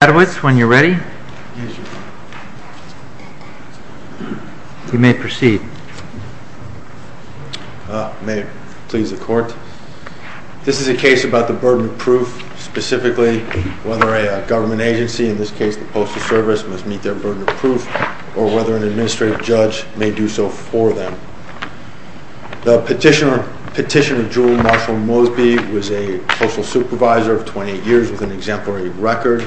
This is a case about the burden of proof, specifically whether a government agency, in this case the Postal Service, must meet their burden of proof, or whether an administrative judge may do so for them. The petitioner, Petitioner Jewel Marshall-Mosby, was a postal supervisor of 28 years with an exemplary record.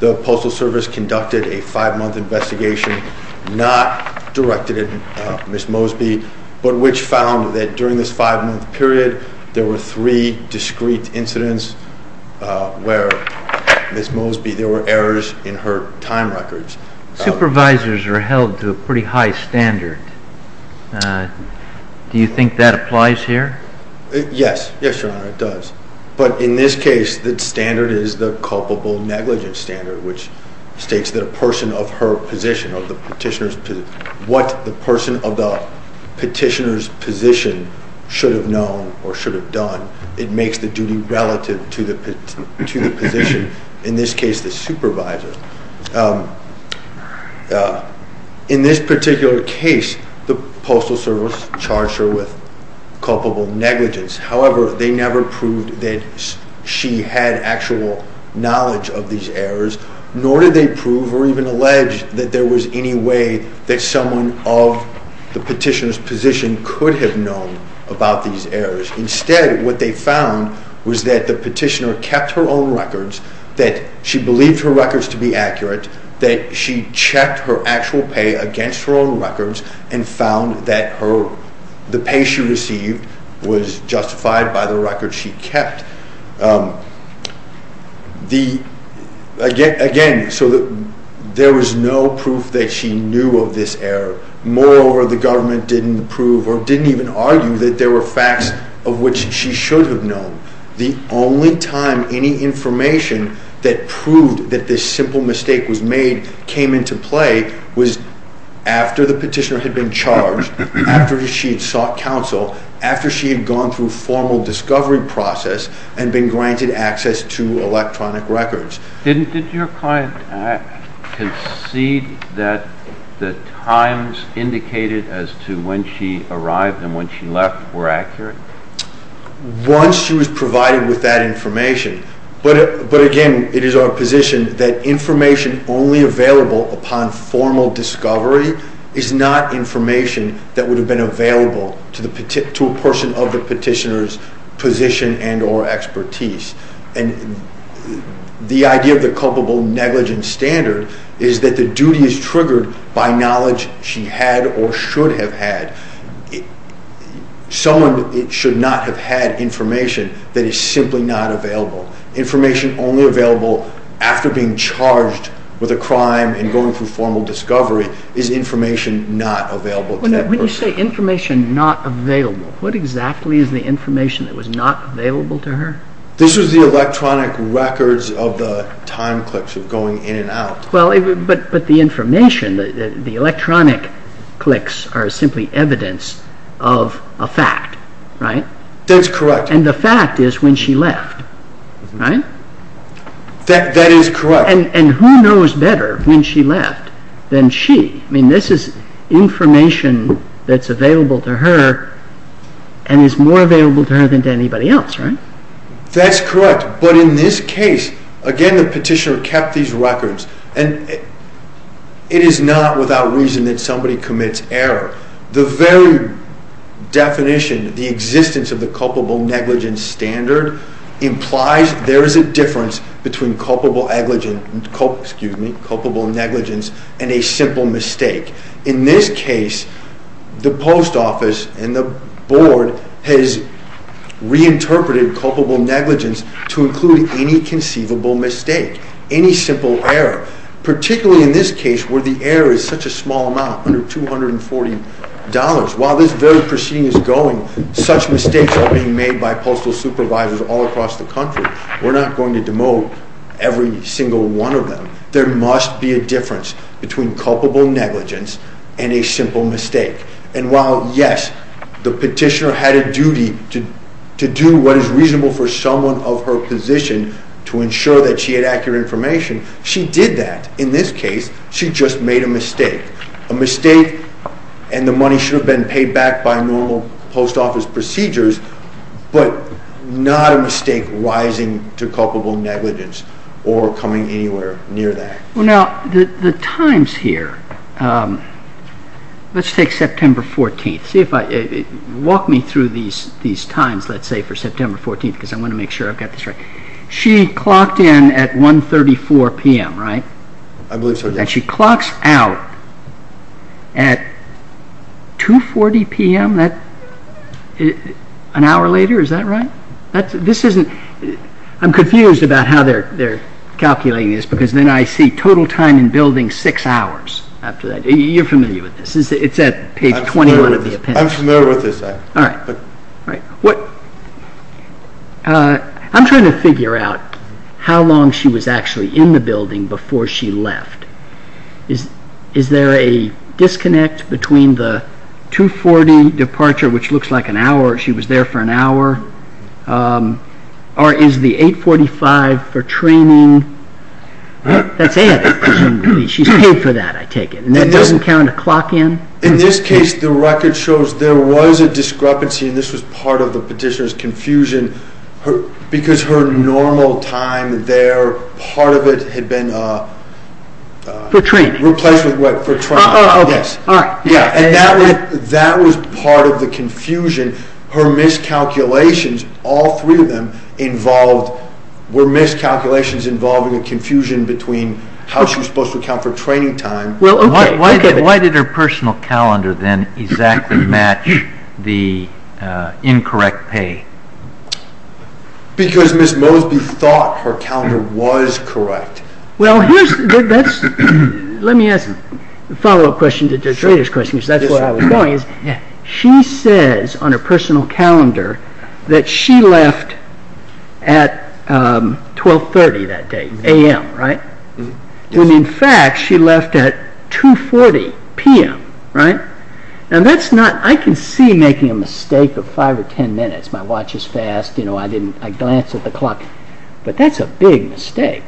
The Postal Service conducted a five-month investigation, not directed at Ms. Mosby, but which found that during this five-month period there were three discrete incidents where Ms. Mosby, there were errors in her time records. Supervisors are held to a pretty high standard. Do you think that applies here? Yes. Yes, Your Honor, it does. But in this case, the standard is the culpable negligence standard, which states that a person of her position, of the petitioner's position, what the person of the petitioner's position should have known or should have done, it makes the duty relative to the position, in this case the supervisor. In this particular case, the Postal Service charged her with culpable negligence. However, they never proved that she had actual knowledge of these errors, nor did they prove or even allege that there was any way that someone of the petitioner's position could have known about these errors. Instead, what they found was that the petitioner kept her own records, that she believed her records to be accurate, that she checked her actual pay against her own records and found that the pay she received was justified by the records she kept. Again, so there was no proof that she knew of this error. Moreover, the government didn't prove or didn't even argue that there were facts of which she should have known. The only time any information that proved that this simple mistake was made came into play was after the petitioner had been charged, after she had sought counsel, after she had gone through a formal discovery process and been granted access to electronic records. Did your client concede that the times indicated as to when she arrived and when she left were accurate? Once she was provided with that information, but again, it is our position that information only available upon formal discovery is not information that would have been available to a person of the petitioner's position and or expertise. The idea of the culpable negligence standard is that the duty is triggered by knowledge she had or should have had. Someone should not have had information that is simply not available. Information only available after being charged with a crime and going through formal discovery is information not available to that person. When you say information not available, what exactly is the information that was not available to her? This was the electronic records of the time clicks of going in and out. Well, but the information, the electronic clicks are simply evidence of a fact, right? That's correct. And the fact is when she left, right? That is correct. And who knows better when she left than she? I mean, this is information that's available to her and is more available to her than to anybody else, right? That's correct. But in this case, again, the petitioner kept these records and it is not without reason that somebody commits error. The very definition, the existence of the culpable negligence standard implies there is a difference between culpable negligence and a simple mistake. In this case, the post office and the board has reinterpreted culpable negligence to include any conceivable mistake, any simple error, particularly in this case where the error is such a small amount, under $240. While this very proceeding is going, such mistakes are being made by postal supervisors all across the country. We're not going to demote every single one of them. There must be a difference between culpable negligence and a simple mistake. And while, yes, the petitioner had a duty to do what is reasonable for someone of her position to ensure that she had accurate information, she did that. In this case, she just made a mistake. A mistake, and the money should have been paid back by normal post office procedures, but not a mistake rising to culpable negligence or coming anywhere near that. Now, the times here, let's take September 14th. Walk me through these times, let's say, for September 14th because I want to make sure I've got this right. She clocked in at 1.34 p.m., right? I believe so, yes. And she clocks out at 2.40 p.m., an hour later, is that right? I'm confused about how they're calculating this because then I see total time in building six hours after that. You're familiar with this. It's at page 21 of the opinion. I'm familiar with this. All right. I'm trying to figure out how long she was actually in the building before she left. Is there a disconnect between the 2.40 departure, which looks like an hour, she was there for an hour, or is the 8.45 for training? That's added, presumably. She's paid for that, I take it, and that doesn't count a clock in? In this case, the record shows there was a discrepancy, and this was part of the petitioner's confusion because her normal time there, part of it had been replaced with what? For training. For training, yes. All right. And that was part of the confusion. Her miscalculations, all three of them, were miscalculations involving a confusion between how she was supposed to account for training time. Why did her personal calendar then exactly match the incorrect pay? Because Ms. Mosby thought her calendar was correct. Well, let me ask a follow-up question to Judge Rader's question, because that's where I was going. She says on her personal calendar that she left at 12.30 that day, a.m., right? And in fact, she left at 2.40 p.m., right? Now, that's not, I can see making a mistake of 5 or 10 minutes. My watch is fast, you know, I didn't, I glanced at the clock, but that's a big mistake.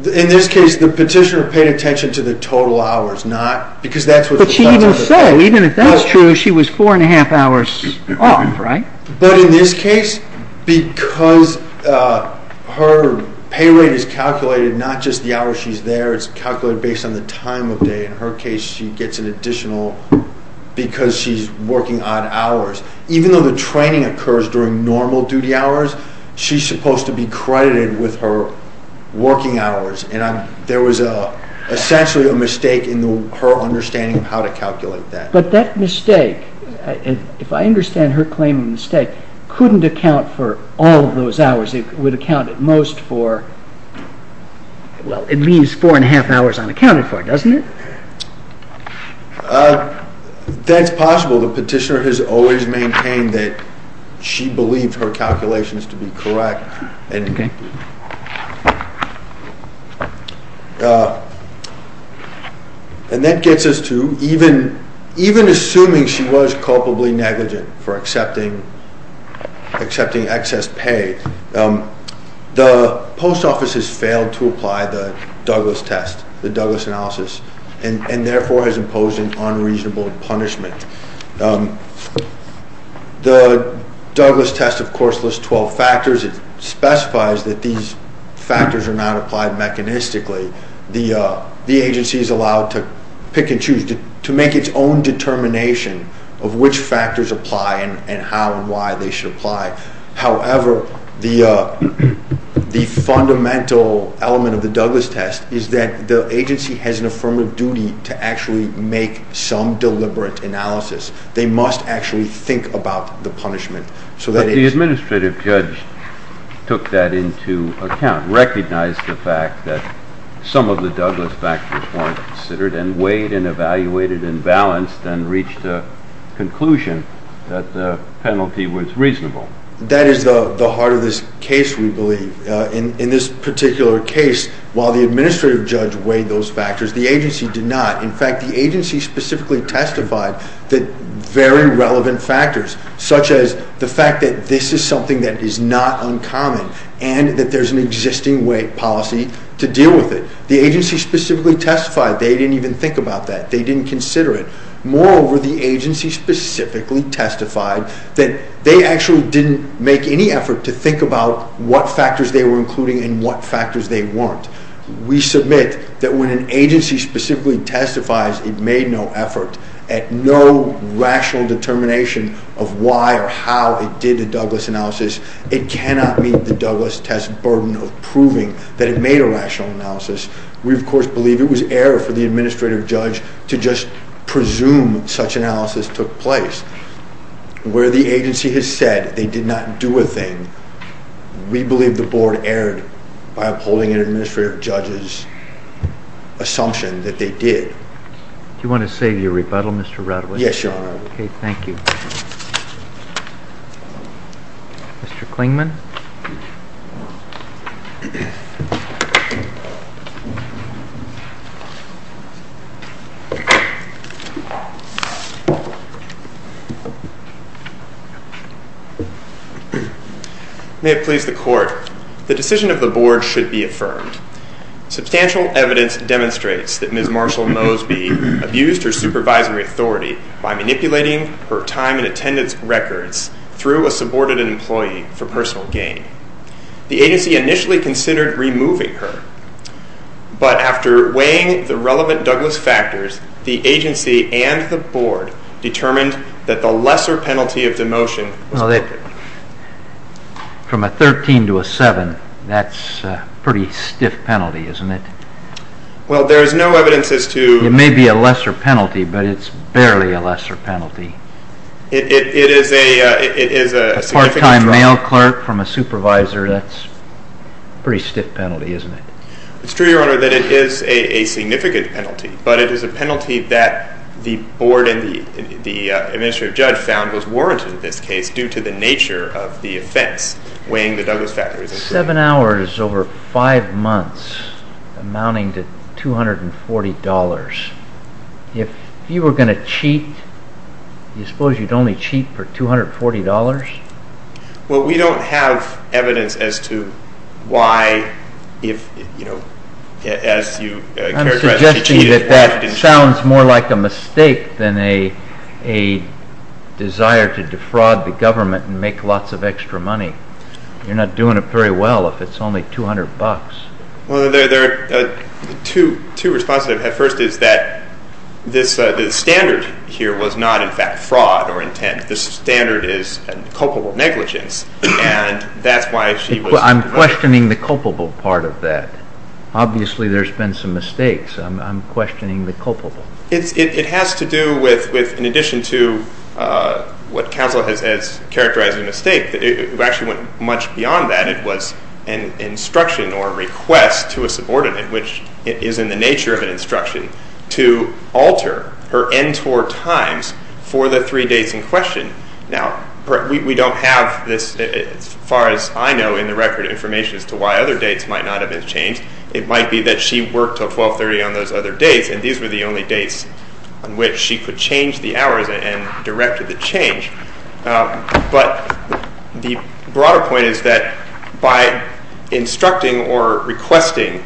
In this case, the petitioner paid attention to the total hours, not, because that's what the… Even so, even if that's true, she was four and a half hours off, right? But in this case, because her pay rate is calculated not just the hours she's there, it's calculated based on the time of day. In her case, she gets an additional, because she's working odd hours. Even though the training occurs during normal duty hours, she's supposed to be credited with her working hours. And there was essentially a mistake in her understanding of how to calculate that. But that mistake, if I understand her claim of mistake, couldn't account for all of those hours. It would account at most for, well, at least four and a half hours unaccounted for, doesn't it? That's possible. The petitioner has always maintained that she believed her calculations to be correct. And that gets us to even assuming she was culpably negligent for accepting excess pay, the post office has failed to apply the Douglas test, the Douglas analysis, and therefore has imposed an unreasonable punishment. The Douglas test, of course, lists 12 factors. It specifies that these factors are not applied mechanistically. The agency is allowed to pick and choose, to make its own determination of which factors apply and how and why they should apply. However, the fundamental element of the Douglas test is that the agency has an affirmative duty to actually make some deliberate analysis. They must actually think about the punishment. But the administrative judge took that into account, recognized the fact that some of the Douglas factors weren't considered, and weighed and evaluated and balanced and reached a conclusion that the penalty was reasonable. That is the heart of this case, we believe. In this particular case, while the administrative judge weighed those factors, the agency did not. In fact, the agency specifically testified that very relevant factors, such as the fact that this is something that is not uncommon and that there's an existing policy to deal with it. The agency specifically testified they didn't even think about that. They didn't consider it. Moreover, the agency specifically testified that they actually didn't make any effort to think about what factors they were including and what factors they weren't. We submit that when an agency specifically testifies it made no effort at no rational determination of why or how it did the Douglas analysis, it cannot meet the Douglas test burden of proving that it made a rational analysis. We, of course, believe it was error for the administrative judge to just presume such analysis took place. Where the agency has said they did not do a thing, we believe the board erred by upholding an administrative judge's assumption that they did. Do you want to say your rebuttal, Mr. Radley? Yes, Your Honor. Okay, thank you. Mr. Klingman? May it please the Court, the decision of the board should be affirmed. Substantial evidence demonstrates that Ms. Marshall Moseby abused her supervisory authority by manipulating her time and attendance records through a subordinated employee for personal gain. The agency initially considered removing her, but after weighing the relevant Douglas factors, the agency and the board determined that the lesser penalty of demotion was appropriate. From a 13 to a 7, that's a pretty stiff penalty, isn't it? Well, there is no evidence as to... It may be a lesser penalty, but it's barely a lesser penalty. It is a significant penalty. A part-time mail clerk from a supervisor, that's a pretty stiff penalty, isn't it? It's true, Your Honor, that it is a significant penalty, but it is a penalty that the board and the administrative judge found was warranted in this case due to the nature of the offense, weighing the Douglas factors. Seven hours over five months amounting to $240. If you were going to cheat, do you suppose you'd only cheat for $240? Well, we don't have evidence as to why if, you know, as you characterize... I'm suggesting that that sounds more like a mistake than a desire to defraud the government and make lots of extra money. You're not doing it very well if it's only $200. Well, there are two responses I have. First is that the standard here was not, in fact, fraud or intent. The standard is culpable negligence, and that's why she was... I'm questioning the culpable part of that. Obviously, there's been some mistakes. I'm questioning the culpable. It has to do with, in addition to what counsel has characterized as a mistake, it actually went much beyond that. It was an instruction or a request to a subordinate, which is in the nature of an instruction, to alter her NTOR times for the three dates in question. Now, we don't have this, as far as I know in the record, information as to why other dates might not have been changed. It might be that she worked till 1230 on those other dates, and these were the only dates on which she could change the hours and directed the change. But the broader point is that by instructing or requesting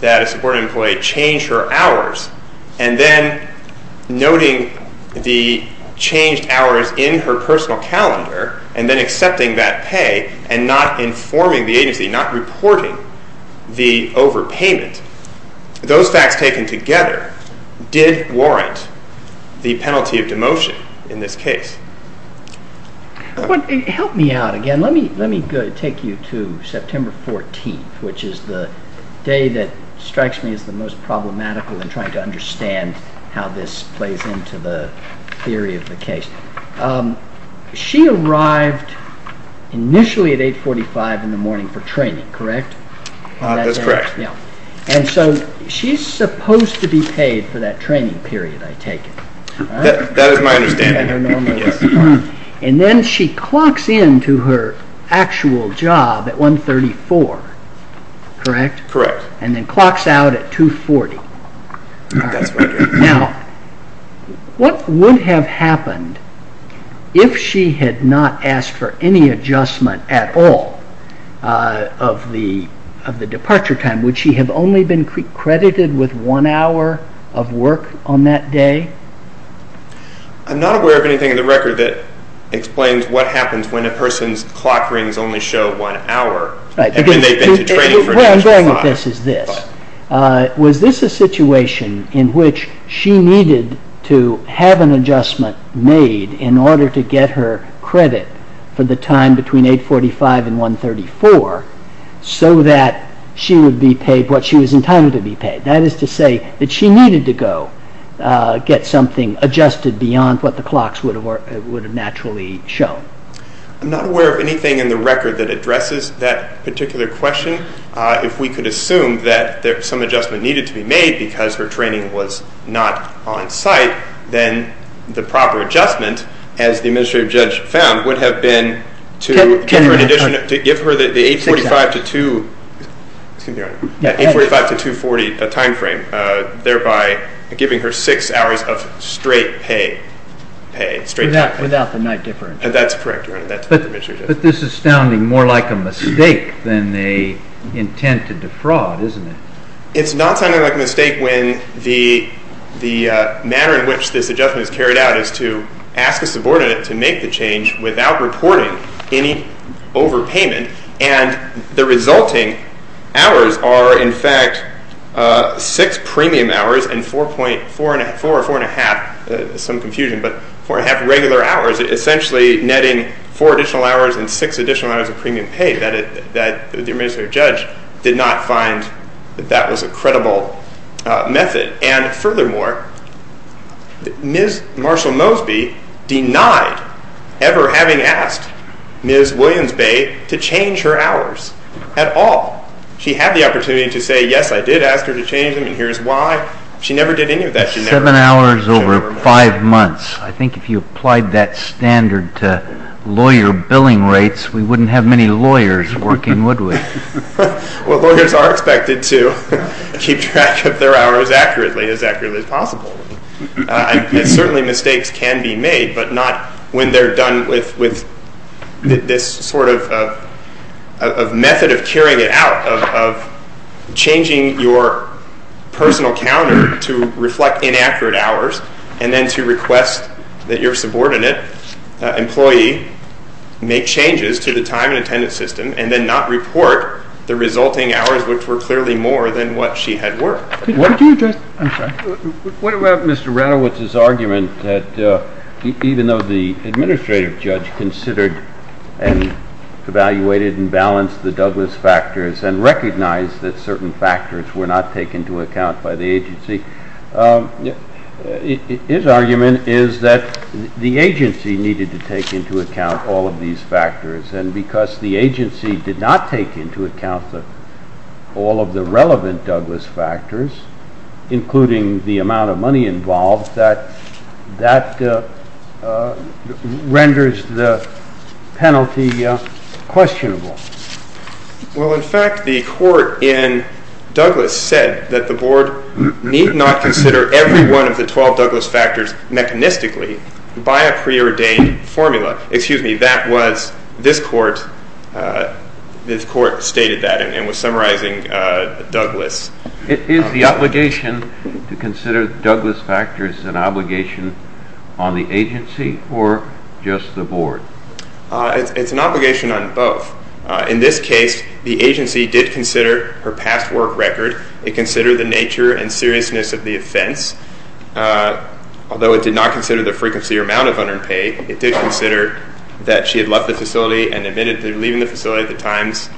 that a subordinate employee change her hours and then noting the changed hours in her personal calendar and then accepting that pay and not informing the agency, not reporting the overpayment, those facts taken together did warrant the penalty of demotion in this case. Help me out again. Let me take you to September 14th, which is the day that strikes me as the most problematical in trying to understand how this plays into the theory of the case. She arrived initially at 845 in the morning for training, correct? That's correct. And so she's supposed to be paid for that training period, I take it. That is my understanding. And then she clocks in to her actual job at 134, correct? Correct. And then clocks out at 240. Now, what would have happened if she had not asked for any adjustment at all of the departure time? Would she have only been credited with one hour of work on that day? I'm not aware of anything in the record that explains what happens when a person's clock rings only show one hour. Where I'm going with this is this. Was this a situation in which she needed to have an adjustment made in order to get her credit for the time between 845 and 134 so that she would be paid what she was entitled to be paid? That is to say that she needed to go get something adjusted beyond what the clocks would have naturally shown. I'm not aware of anything in the record that addresses that particular question. If we could assume that some adjustment needed to be made because her training was not on site, then the proper adjustment, as the administrative judge found, would have been to give her the 845 to 240 timeframe, thereby giving her six hours of straight pay. Without the night difference? That's correct, Your Honor. But this is sounding more like a mistake than an intent to defraud, isn't it? It's not sounding like a mistake when the manner in which this adjustment is carried out is to ask a subordinate to make the change without reporting any overpayment. And the resulting hours are, in fact, six premium hours and four and a half regular hours, essentially netting four additional hours and six additional hours of premium pay that the administrative judge did not find that that was a credible method. And furthermore, Ms. Marshall Mosby denied ever having asked Ms. Williams Bay to change her hours at all. She had the opportunity to say, yes, I did ask her to change them, and here's why. She never did any of that. Seven hours over five months. I think if you applied that standard to lawyer billing rates, we wouldn't have many lawyers working, would we? Well, lawyers are expected to keep track of their hours accurately, as accurately as possible. And certainly mistakes can be made, but not when they're done with this sort of method of carrying it out, of changing your personal counter to reflect inaccurate hours and then to request that your subordinate employee make changes to the time and attendance system and then not report the resulting hours, which were clearly more than what she had worked. What did you address? I'm sorry. What about Mr. Radowitz's argument that even though the administrative judge considered and evaluated and balanced the Douglas factors and recognized that certain factors were not taken into account by the agency, his argument is that the agency needed to take into account all of these factors. And because the agency did not take into account all of the relevant Douglas factors, including the amount of money involved, that renders the penalty questionable. Well, in fact, the court in Douglas said that the board need not consider every one of the 12 Douglas factors mechanistically by a preordained formula. This court stated that and was summarizing Douglas. Is the obligation to consider Douglas factors an obligation on the agency or just the board? It's an obligation on both. In this case, the agency did consider her past work record. It considered the nature and seriousness of the offense. Although it did not consider the frequency or amount of unearned pay, it did consider that she had left the facility and admitted to leaving the facility at the times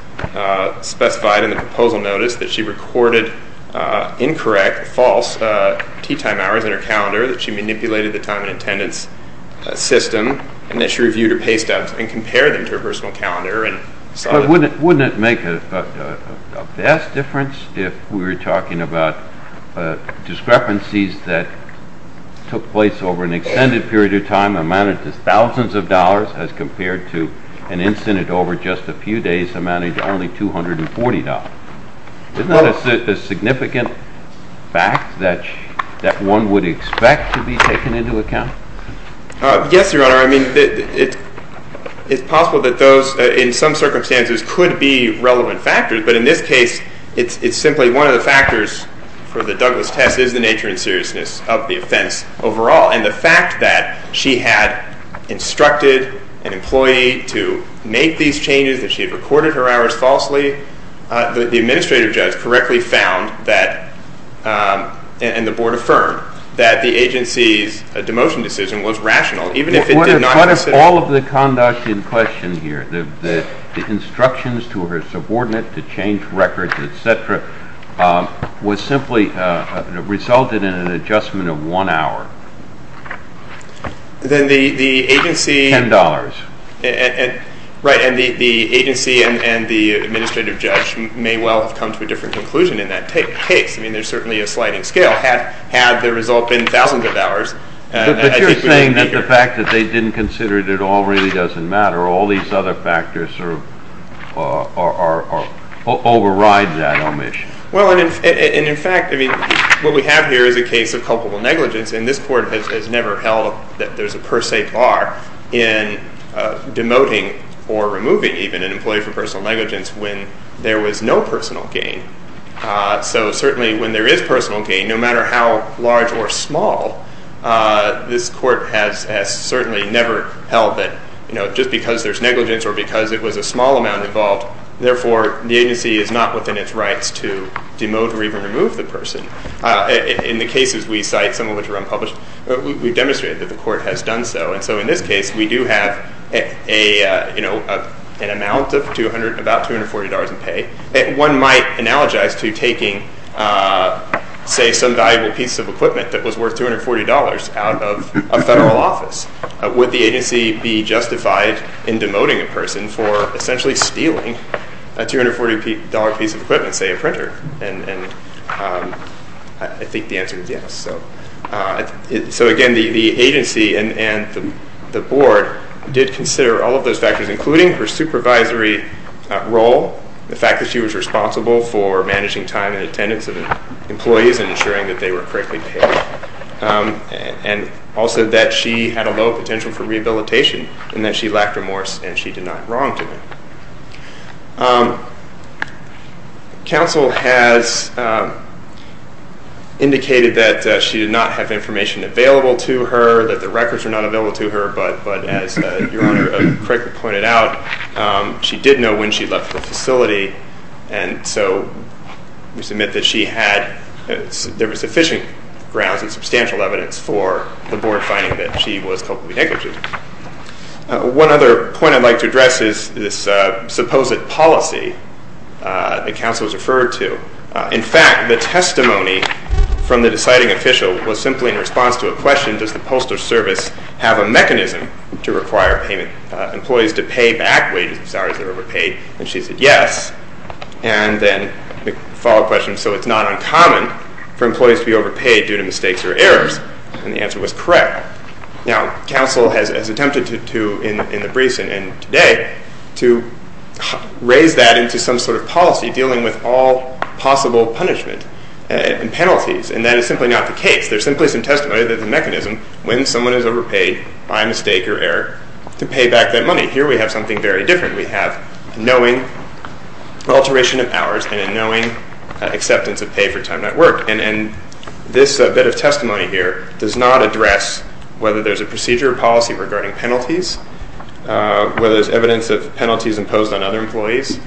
specified in the proposal notice, that she recorded incorrect, false tee time hours in her calendar, that she manipulated the time and attendance system, and that she reviewed her pay steps and compared them to her personal calendar. But wouldn't it make a vast difference if we were talking about discrepancies that took place over an extended period of time, amounted to thousands of dollars, as compared to an incident over just a few days amounting to only $240? Isn't that a significant fact that one would expect to be taken into account? Yes, Your Honor. I mean, it's possible that those, in some circumstances, could be relevant factors. But in this case, it's simply one of the factors for the Douglas test is the nature and seriousness of the offense overall. And the fact that she had instructed an employee to make these changes, that she had recorded her hours falsely, the administrative judge correctly found that, and the board affirmed, that the agency's demotion decision was rational, even if it did not consider- All of the conduct in question here, the instructions to her subordinate to change records, et cetera, was simply resulted in an adjustment of one hour. Then the agency- Ten dollars. Right, and the agency and the administrative judge may well have come to a different conclusion in that case. I mean, there's certainly a sliding scale had the result been thousands of hours. But you're saying that the fact that they didn't consider it at all really doesn't matter. All these other factors override that omission. Well, and in fact, what we have here is a case of culpable negligence, and this Court has never held that there's a per se bar in demoting or removing even an employee for personal negligence when there was no personal gain. So certainly when there is personal gain, no matter how large or small, this Court has certainly never held that just because there's negligence or because it was a small amount involved, therefore the agency is not within its rights to demote or even remove the person. In the cases we cite, some of which are unpublished, we've demonstrated that the Court has done so. And so in this case, we do have an amount of about $240 in pay. One might analogize to taking, say, some valuable piece of equipment that was worth $240 out of a federal office. Would the agency be justified in demoting a person for essentially stealing a $240 piece of equipment, say a printer? And I think the answer is yes. So again, the agency and the Board did consider all of those factors, including her supervisory role, the fact that she was responsible for managing time and attendance of employees and ensuring that they were correctly paid, and also that she had a low potential for rehabilitation and that she lacked remorse and she did not wrong to them. Counsel has indicated that she did not have information available to her, that the records were not available to her, but as Your Honor correctly pointed out, she did know when she left the facility, and so we submit that there was sufficient grounds and substantial evidence for the Board finding that she was culpably negligent. One other point I'd like to address is this supposed policy that counsel has referred to. In fact, the testimony from the deciding official was simply in response to a question, does the postal service have a mechanism to require employees to pay back wages and salaries that are overpaid? And she said yes. And then the follow-up question, so it's not uncommon for employees to be overpaid due to mistakes or errors? And the answer was correct. Now, counsel has attempted to, in the briefs and today, to raise that into some sort of policy, dealing with all possible punishment and penalties, and that is simply not the case. There's simply some testimony that the mechanism, when someone is overpaid by mistake or error, to pay back that money. Here we have something very different. We have a knowing alteration of hours and a knowing acceptance of pay for time not worked. And this bit of testimony here does not address whether there's a procedure or policy regarding penalties, whether there's evidence of penalties imposed on other employees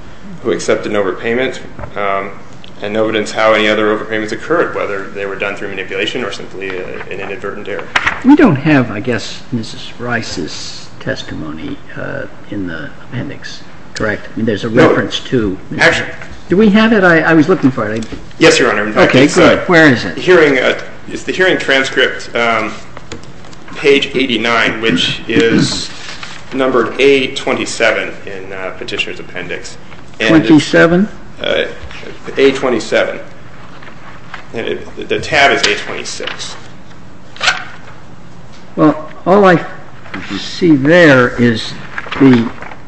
who accepted an overpayment, and no evidence how any other overpayments occurred, whether they were done through manipulation or simply an inadvertent error. We don't have, I guess, Mrs. Rice's testimony in the appendix, correct? No. There's a reference to. Actually. Do we have it? I was looking for it. Yes, Your Honor. Okay, good. Where is it? It's the hearing transcript, page 89, which is numbered A27 in Petitioner's Appendix. Twenty-seven? A27. The tab is A26. Well, all I see there is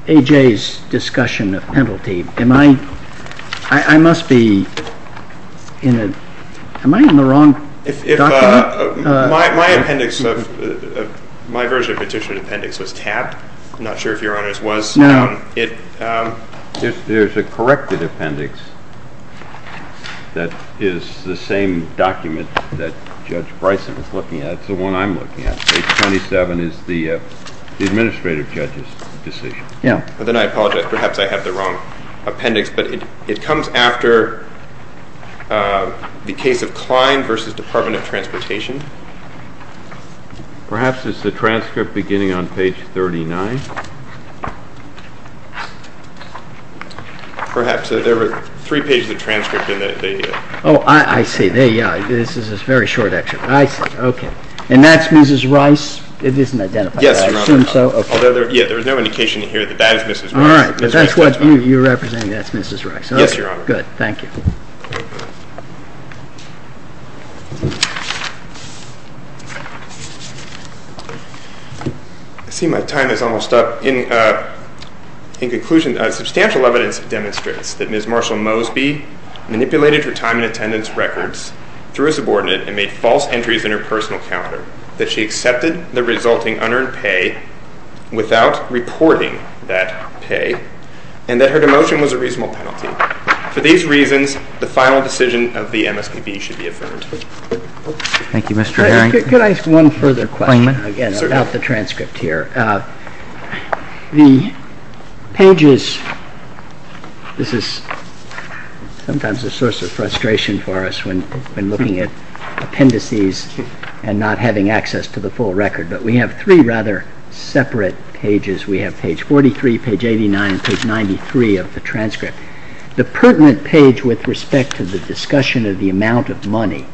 A.J.'s discussion of penalty. Am I in the wrong document? My version of Petitioner's Appendix was tabbed. No. There's a corrected appendix that is the same document that Judge Bryson is looking at. It's the one I'm looking at. Page 27 is the administrative judge's decision. Then I apologize. Perhaps I have the wrong appendix. But it comes after the case of Klein v. Department of Transportation. Perhaps it's the transcript beginning on page 39. Perhaps. There were three pages of transcript. Oh, I see. This is a very short excerpt. I see. Okay. And that's Mrs. Rice? It isn't identified. Yes, Your Honor. I assume so. Although there is no indication here that that is Mrs. Rice. All right. But that's what you're representing. That's Mrs. Rice. Yes, Your Honor. Good. Thank you. I see my time is almost up. In conclusion, substantial evidence demonstrates that Ms. Marshall Mosby manipulated her time and attendance records through a subordinate and made false entries in her personal calendar, that she accepted the resulting unearned pay without reporting that pay, and that her demotion was a reasonable penalty. For these reasons, the final decision of the MSPB should be affirmed. Thank you, Mr. Herring. Could I ask one further question, again, about the transcript here? The pages, this is sometimes a source of frustration for us when looking at appendices and not having access to the full record, but we have three rather separate pages. We have page 43, page 89, and page 93 of the transcript. The pertinent page with respect to the discussion of the amount of money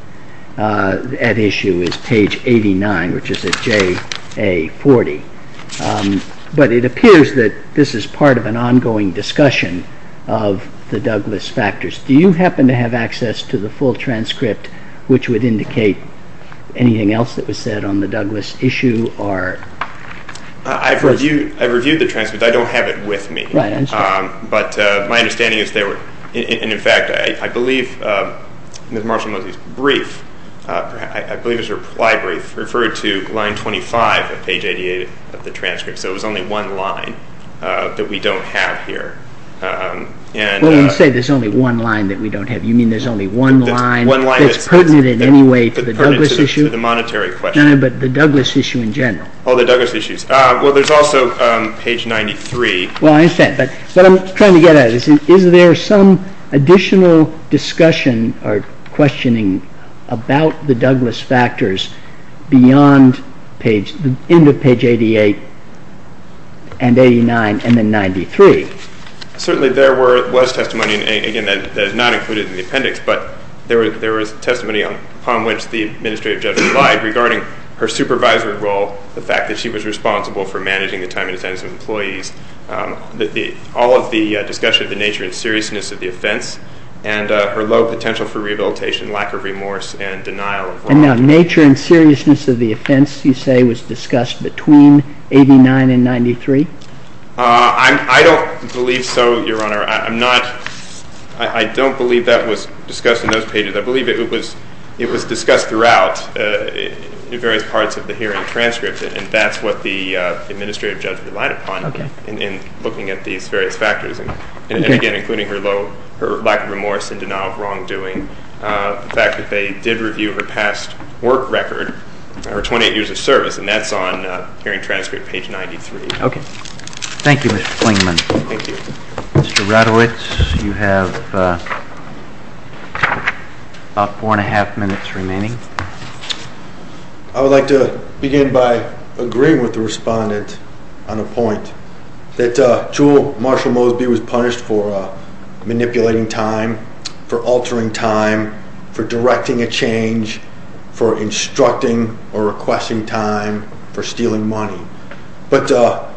at issue is page 89, which is at JA40. But it appears that this is part of an ongoing discussion of the Douglas factors. Do you happen to have access to the full transcript, which would indicate anything else that was said on the Douglas issue? I've reviewed the transcript. I don't have it with me. But my understanding is there were, in fact, I believe Ms. Marshall-Moseley's brief, I believe it was her ply brief, referred to line 25 of page 88 of the transcript. So it was only one line that we don't have here. Well, you say there's only one line that we don't have. You mean there's only one line that's pertinent in any way to the Douglas issue? One line that's pertinent to the monetary question. No, no, but the Douglas issue in general. Oh, the Douglas issues. Well, there's also page 93. Well, I understand, but what I'm trying to get at is is there some additional discussion or questioning about the Douglas factors beyond the end of page 88 and 89 and then 93? Certainly there was testimony, and again, that is not included in the appendix, but there was testimony upon which the Administrative Judge relied regarding her supervisory role, the fact that she was responsible for managing the time and attendance of employees, all of the discussion of the nature and seriousness of the offense and her low potential for rehabilitation, lack of remorse, and denial of wrongdoing. And now nature and seriousness of the offense, you say, was discussed between 89 and 93? I don't believe so, Your Honor. I don't believe that was discussed in those pages. I believe it was discussed throughout in various parts of the hearing transcript, and that's what the Administrative Judge relied upon in looking at these various factors, and again, including her lack of remorse and denial of wrongdoing, the fact that they did review her past work record, her 28 years of service, and that's on hearing transcript page 93. Okay. Thank you, Mr. Klingman. Thank you. Mr. Radowitz, you have about four and a half minutes remaining. I would like to begin by agreeing with the respondent on a point, that Jule Marshall Mosby was punished for manipulating time, for altering time, for directing a change, for instructing or requesting time, for stealing money. But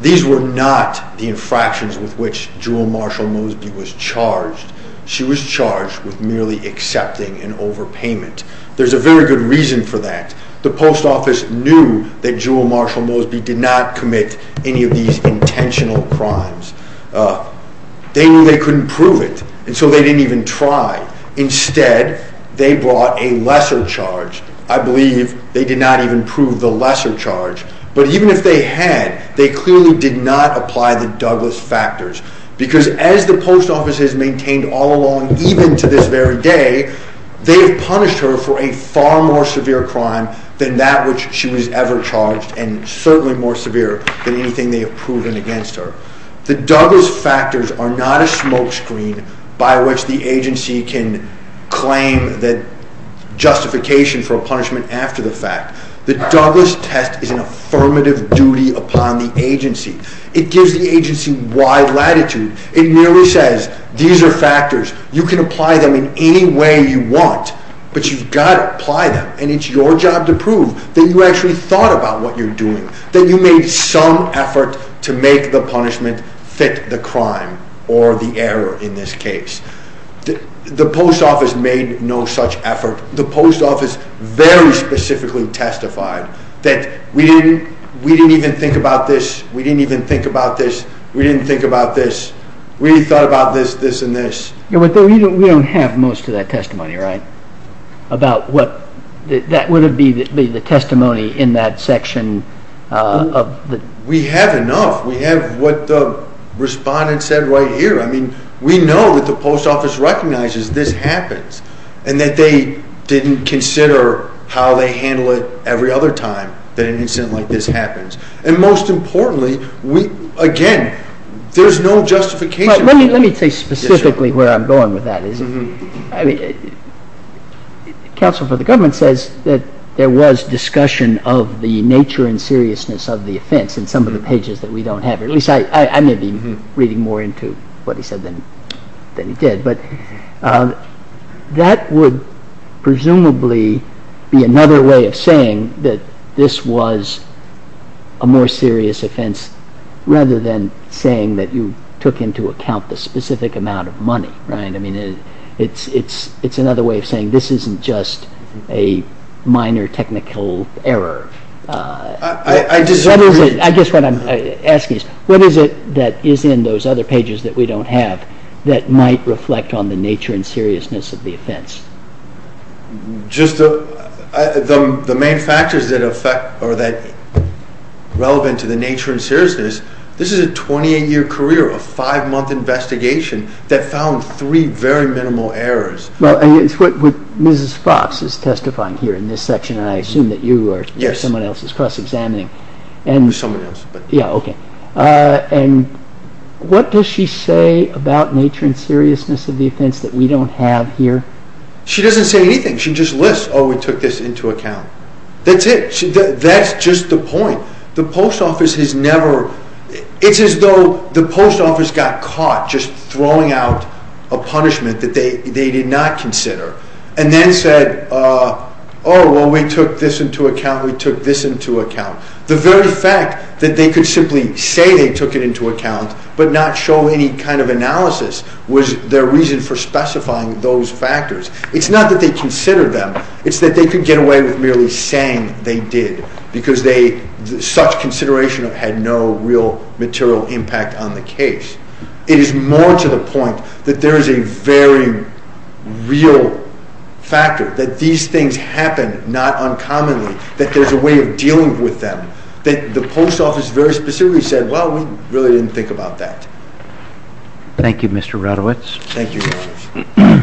these were not the infractions with which Jule Marshall Mosby was charged. She was charged with merely accepting an overpayment. There's a very good reason for that. The Post Office knew that Jule Marshall Mosby did not commit any of these intentional crimes. They knew they couldn't prove it, and so they didn't even try. Instead, they brought a lesser charge. I believe they did not even prove the lesser charge. But even if they had, they clearly did not apply the Douglas factors, because as the Post Office has maintained all along, even to this very day, they have punished her for a far more severe crime than that which she was ever charged and certainly more severe than anything they have proven against her. The Douglas factors are not a smokescreen by which the agency can claim justification for a punishment after the fact. The Douglas test is an affirmative duty upon the agency. It gives the agency wide latitude. It merely says these are factors. You can apply them in any way you want, but you've got to apply them, and it's your job to prove that you actually thought about what you're doing, that you made some effort to make the punishment fit the crime or the error in this case. The Post Office made no such effort. The Post Office very specifically testified that we didn't even think about this. We didn't even think about this. We didn't think about this. We thought about this, this, and this. We don't have most of that testimony, right? That would be the testimony in that section. We have enough. We have what the respondent said right here. I mean, we know that the Post Office recognizes this happens and that they didn't consider how they handle it every other time that an incident like this happens. And most importantly, again, there's no justification. Let me tell you specifically where I'm going with that. Counsel for the government says that there was discussion of the nature and seriousness of the offense in some of the pages that we don't have. At least I may be reading more into what he said than he did. But that would presumably be another way of saying that this was a more serious offense rather than saying that you took into account the specific amount of money. I mean, it's another way of saying this isn't just a minor technical error. I guess what I'm asking is what is it that is in those other pages that we don't have that might reflect on the nature and seriousness of the offense? Just the main factors that affect or that are relevant to the nature and seriousness, this is a 28-year career, a five-month investigation, that found three very minimal errors. Well, it's what Mrs. Fox is testifying here in this section, and I assume that you or someone else is cross-examining. Someone else. Yeah, okay. And what does she say about nature and seriousness of the offense that we don't have here? She doesn't say anything. She just lists, oh, we took this into account. That's it. That's just the point. The post office has never... It's as though the post office got caught just throwing out a punishment that they did not consider and then said, oh, well, we took this into account, we took this into account. The very fact that they could simply say they took it into account but not show any kind of analysis was their reason for specifying those factors. It's not that they considered them. It's that they could get away with merely saying they did because such consideration had no real material impact on the case. It is more to the point that there is a very real factor that these things happen not uncommonly, that there's a way of dealing with them, that the post office very specifically said, well, we really didn't think about that. Thank you, Mr. Radowitz. Thank you.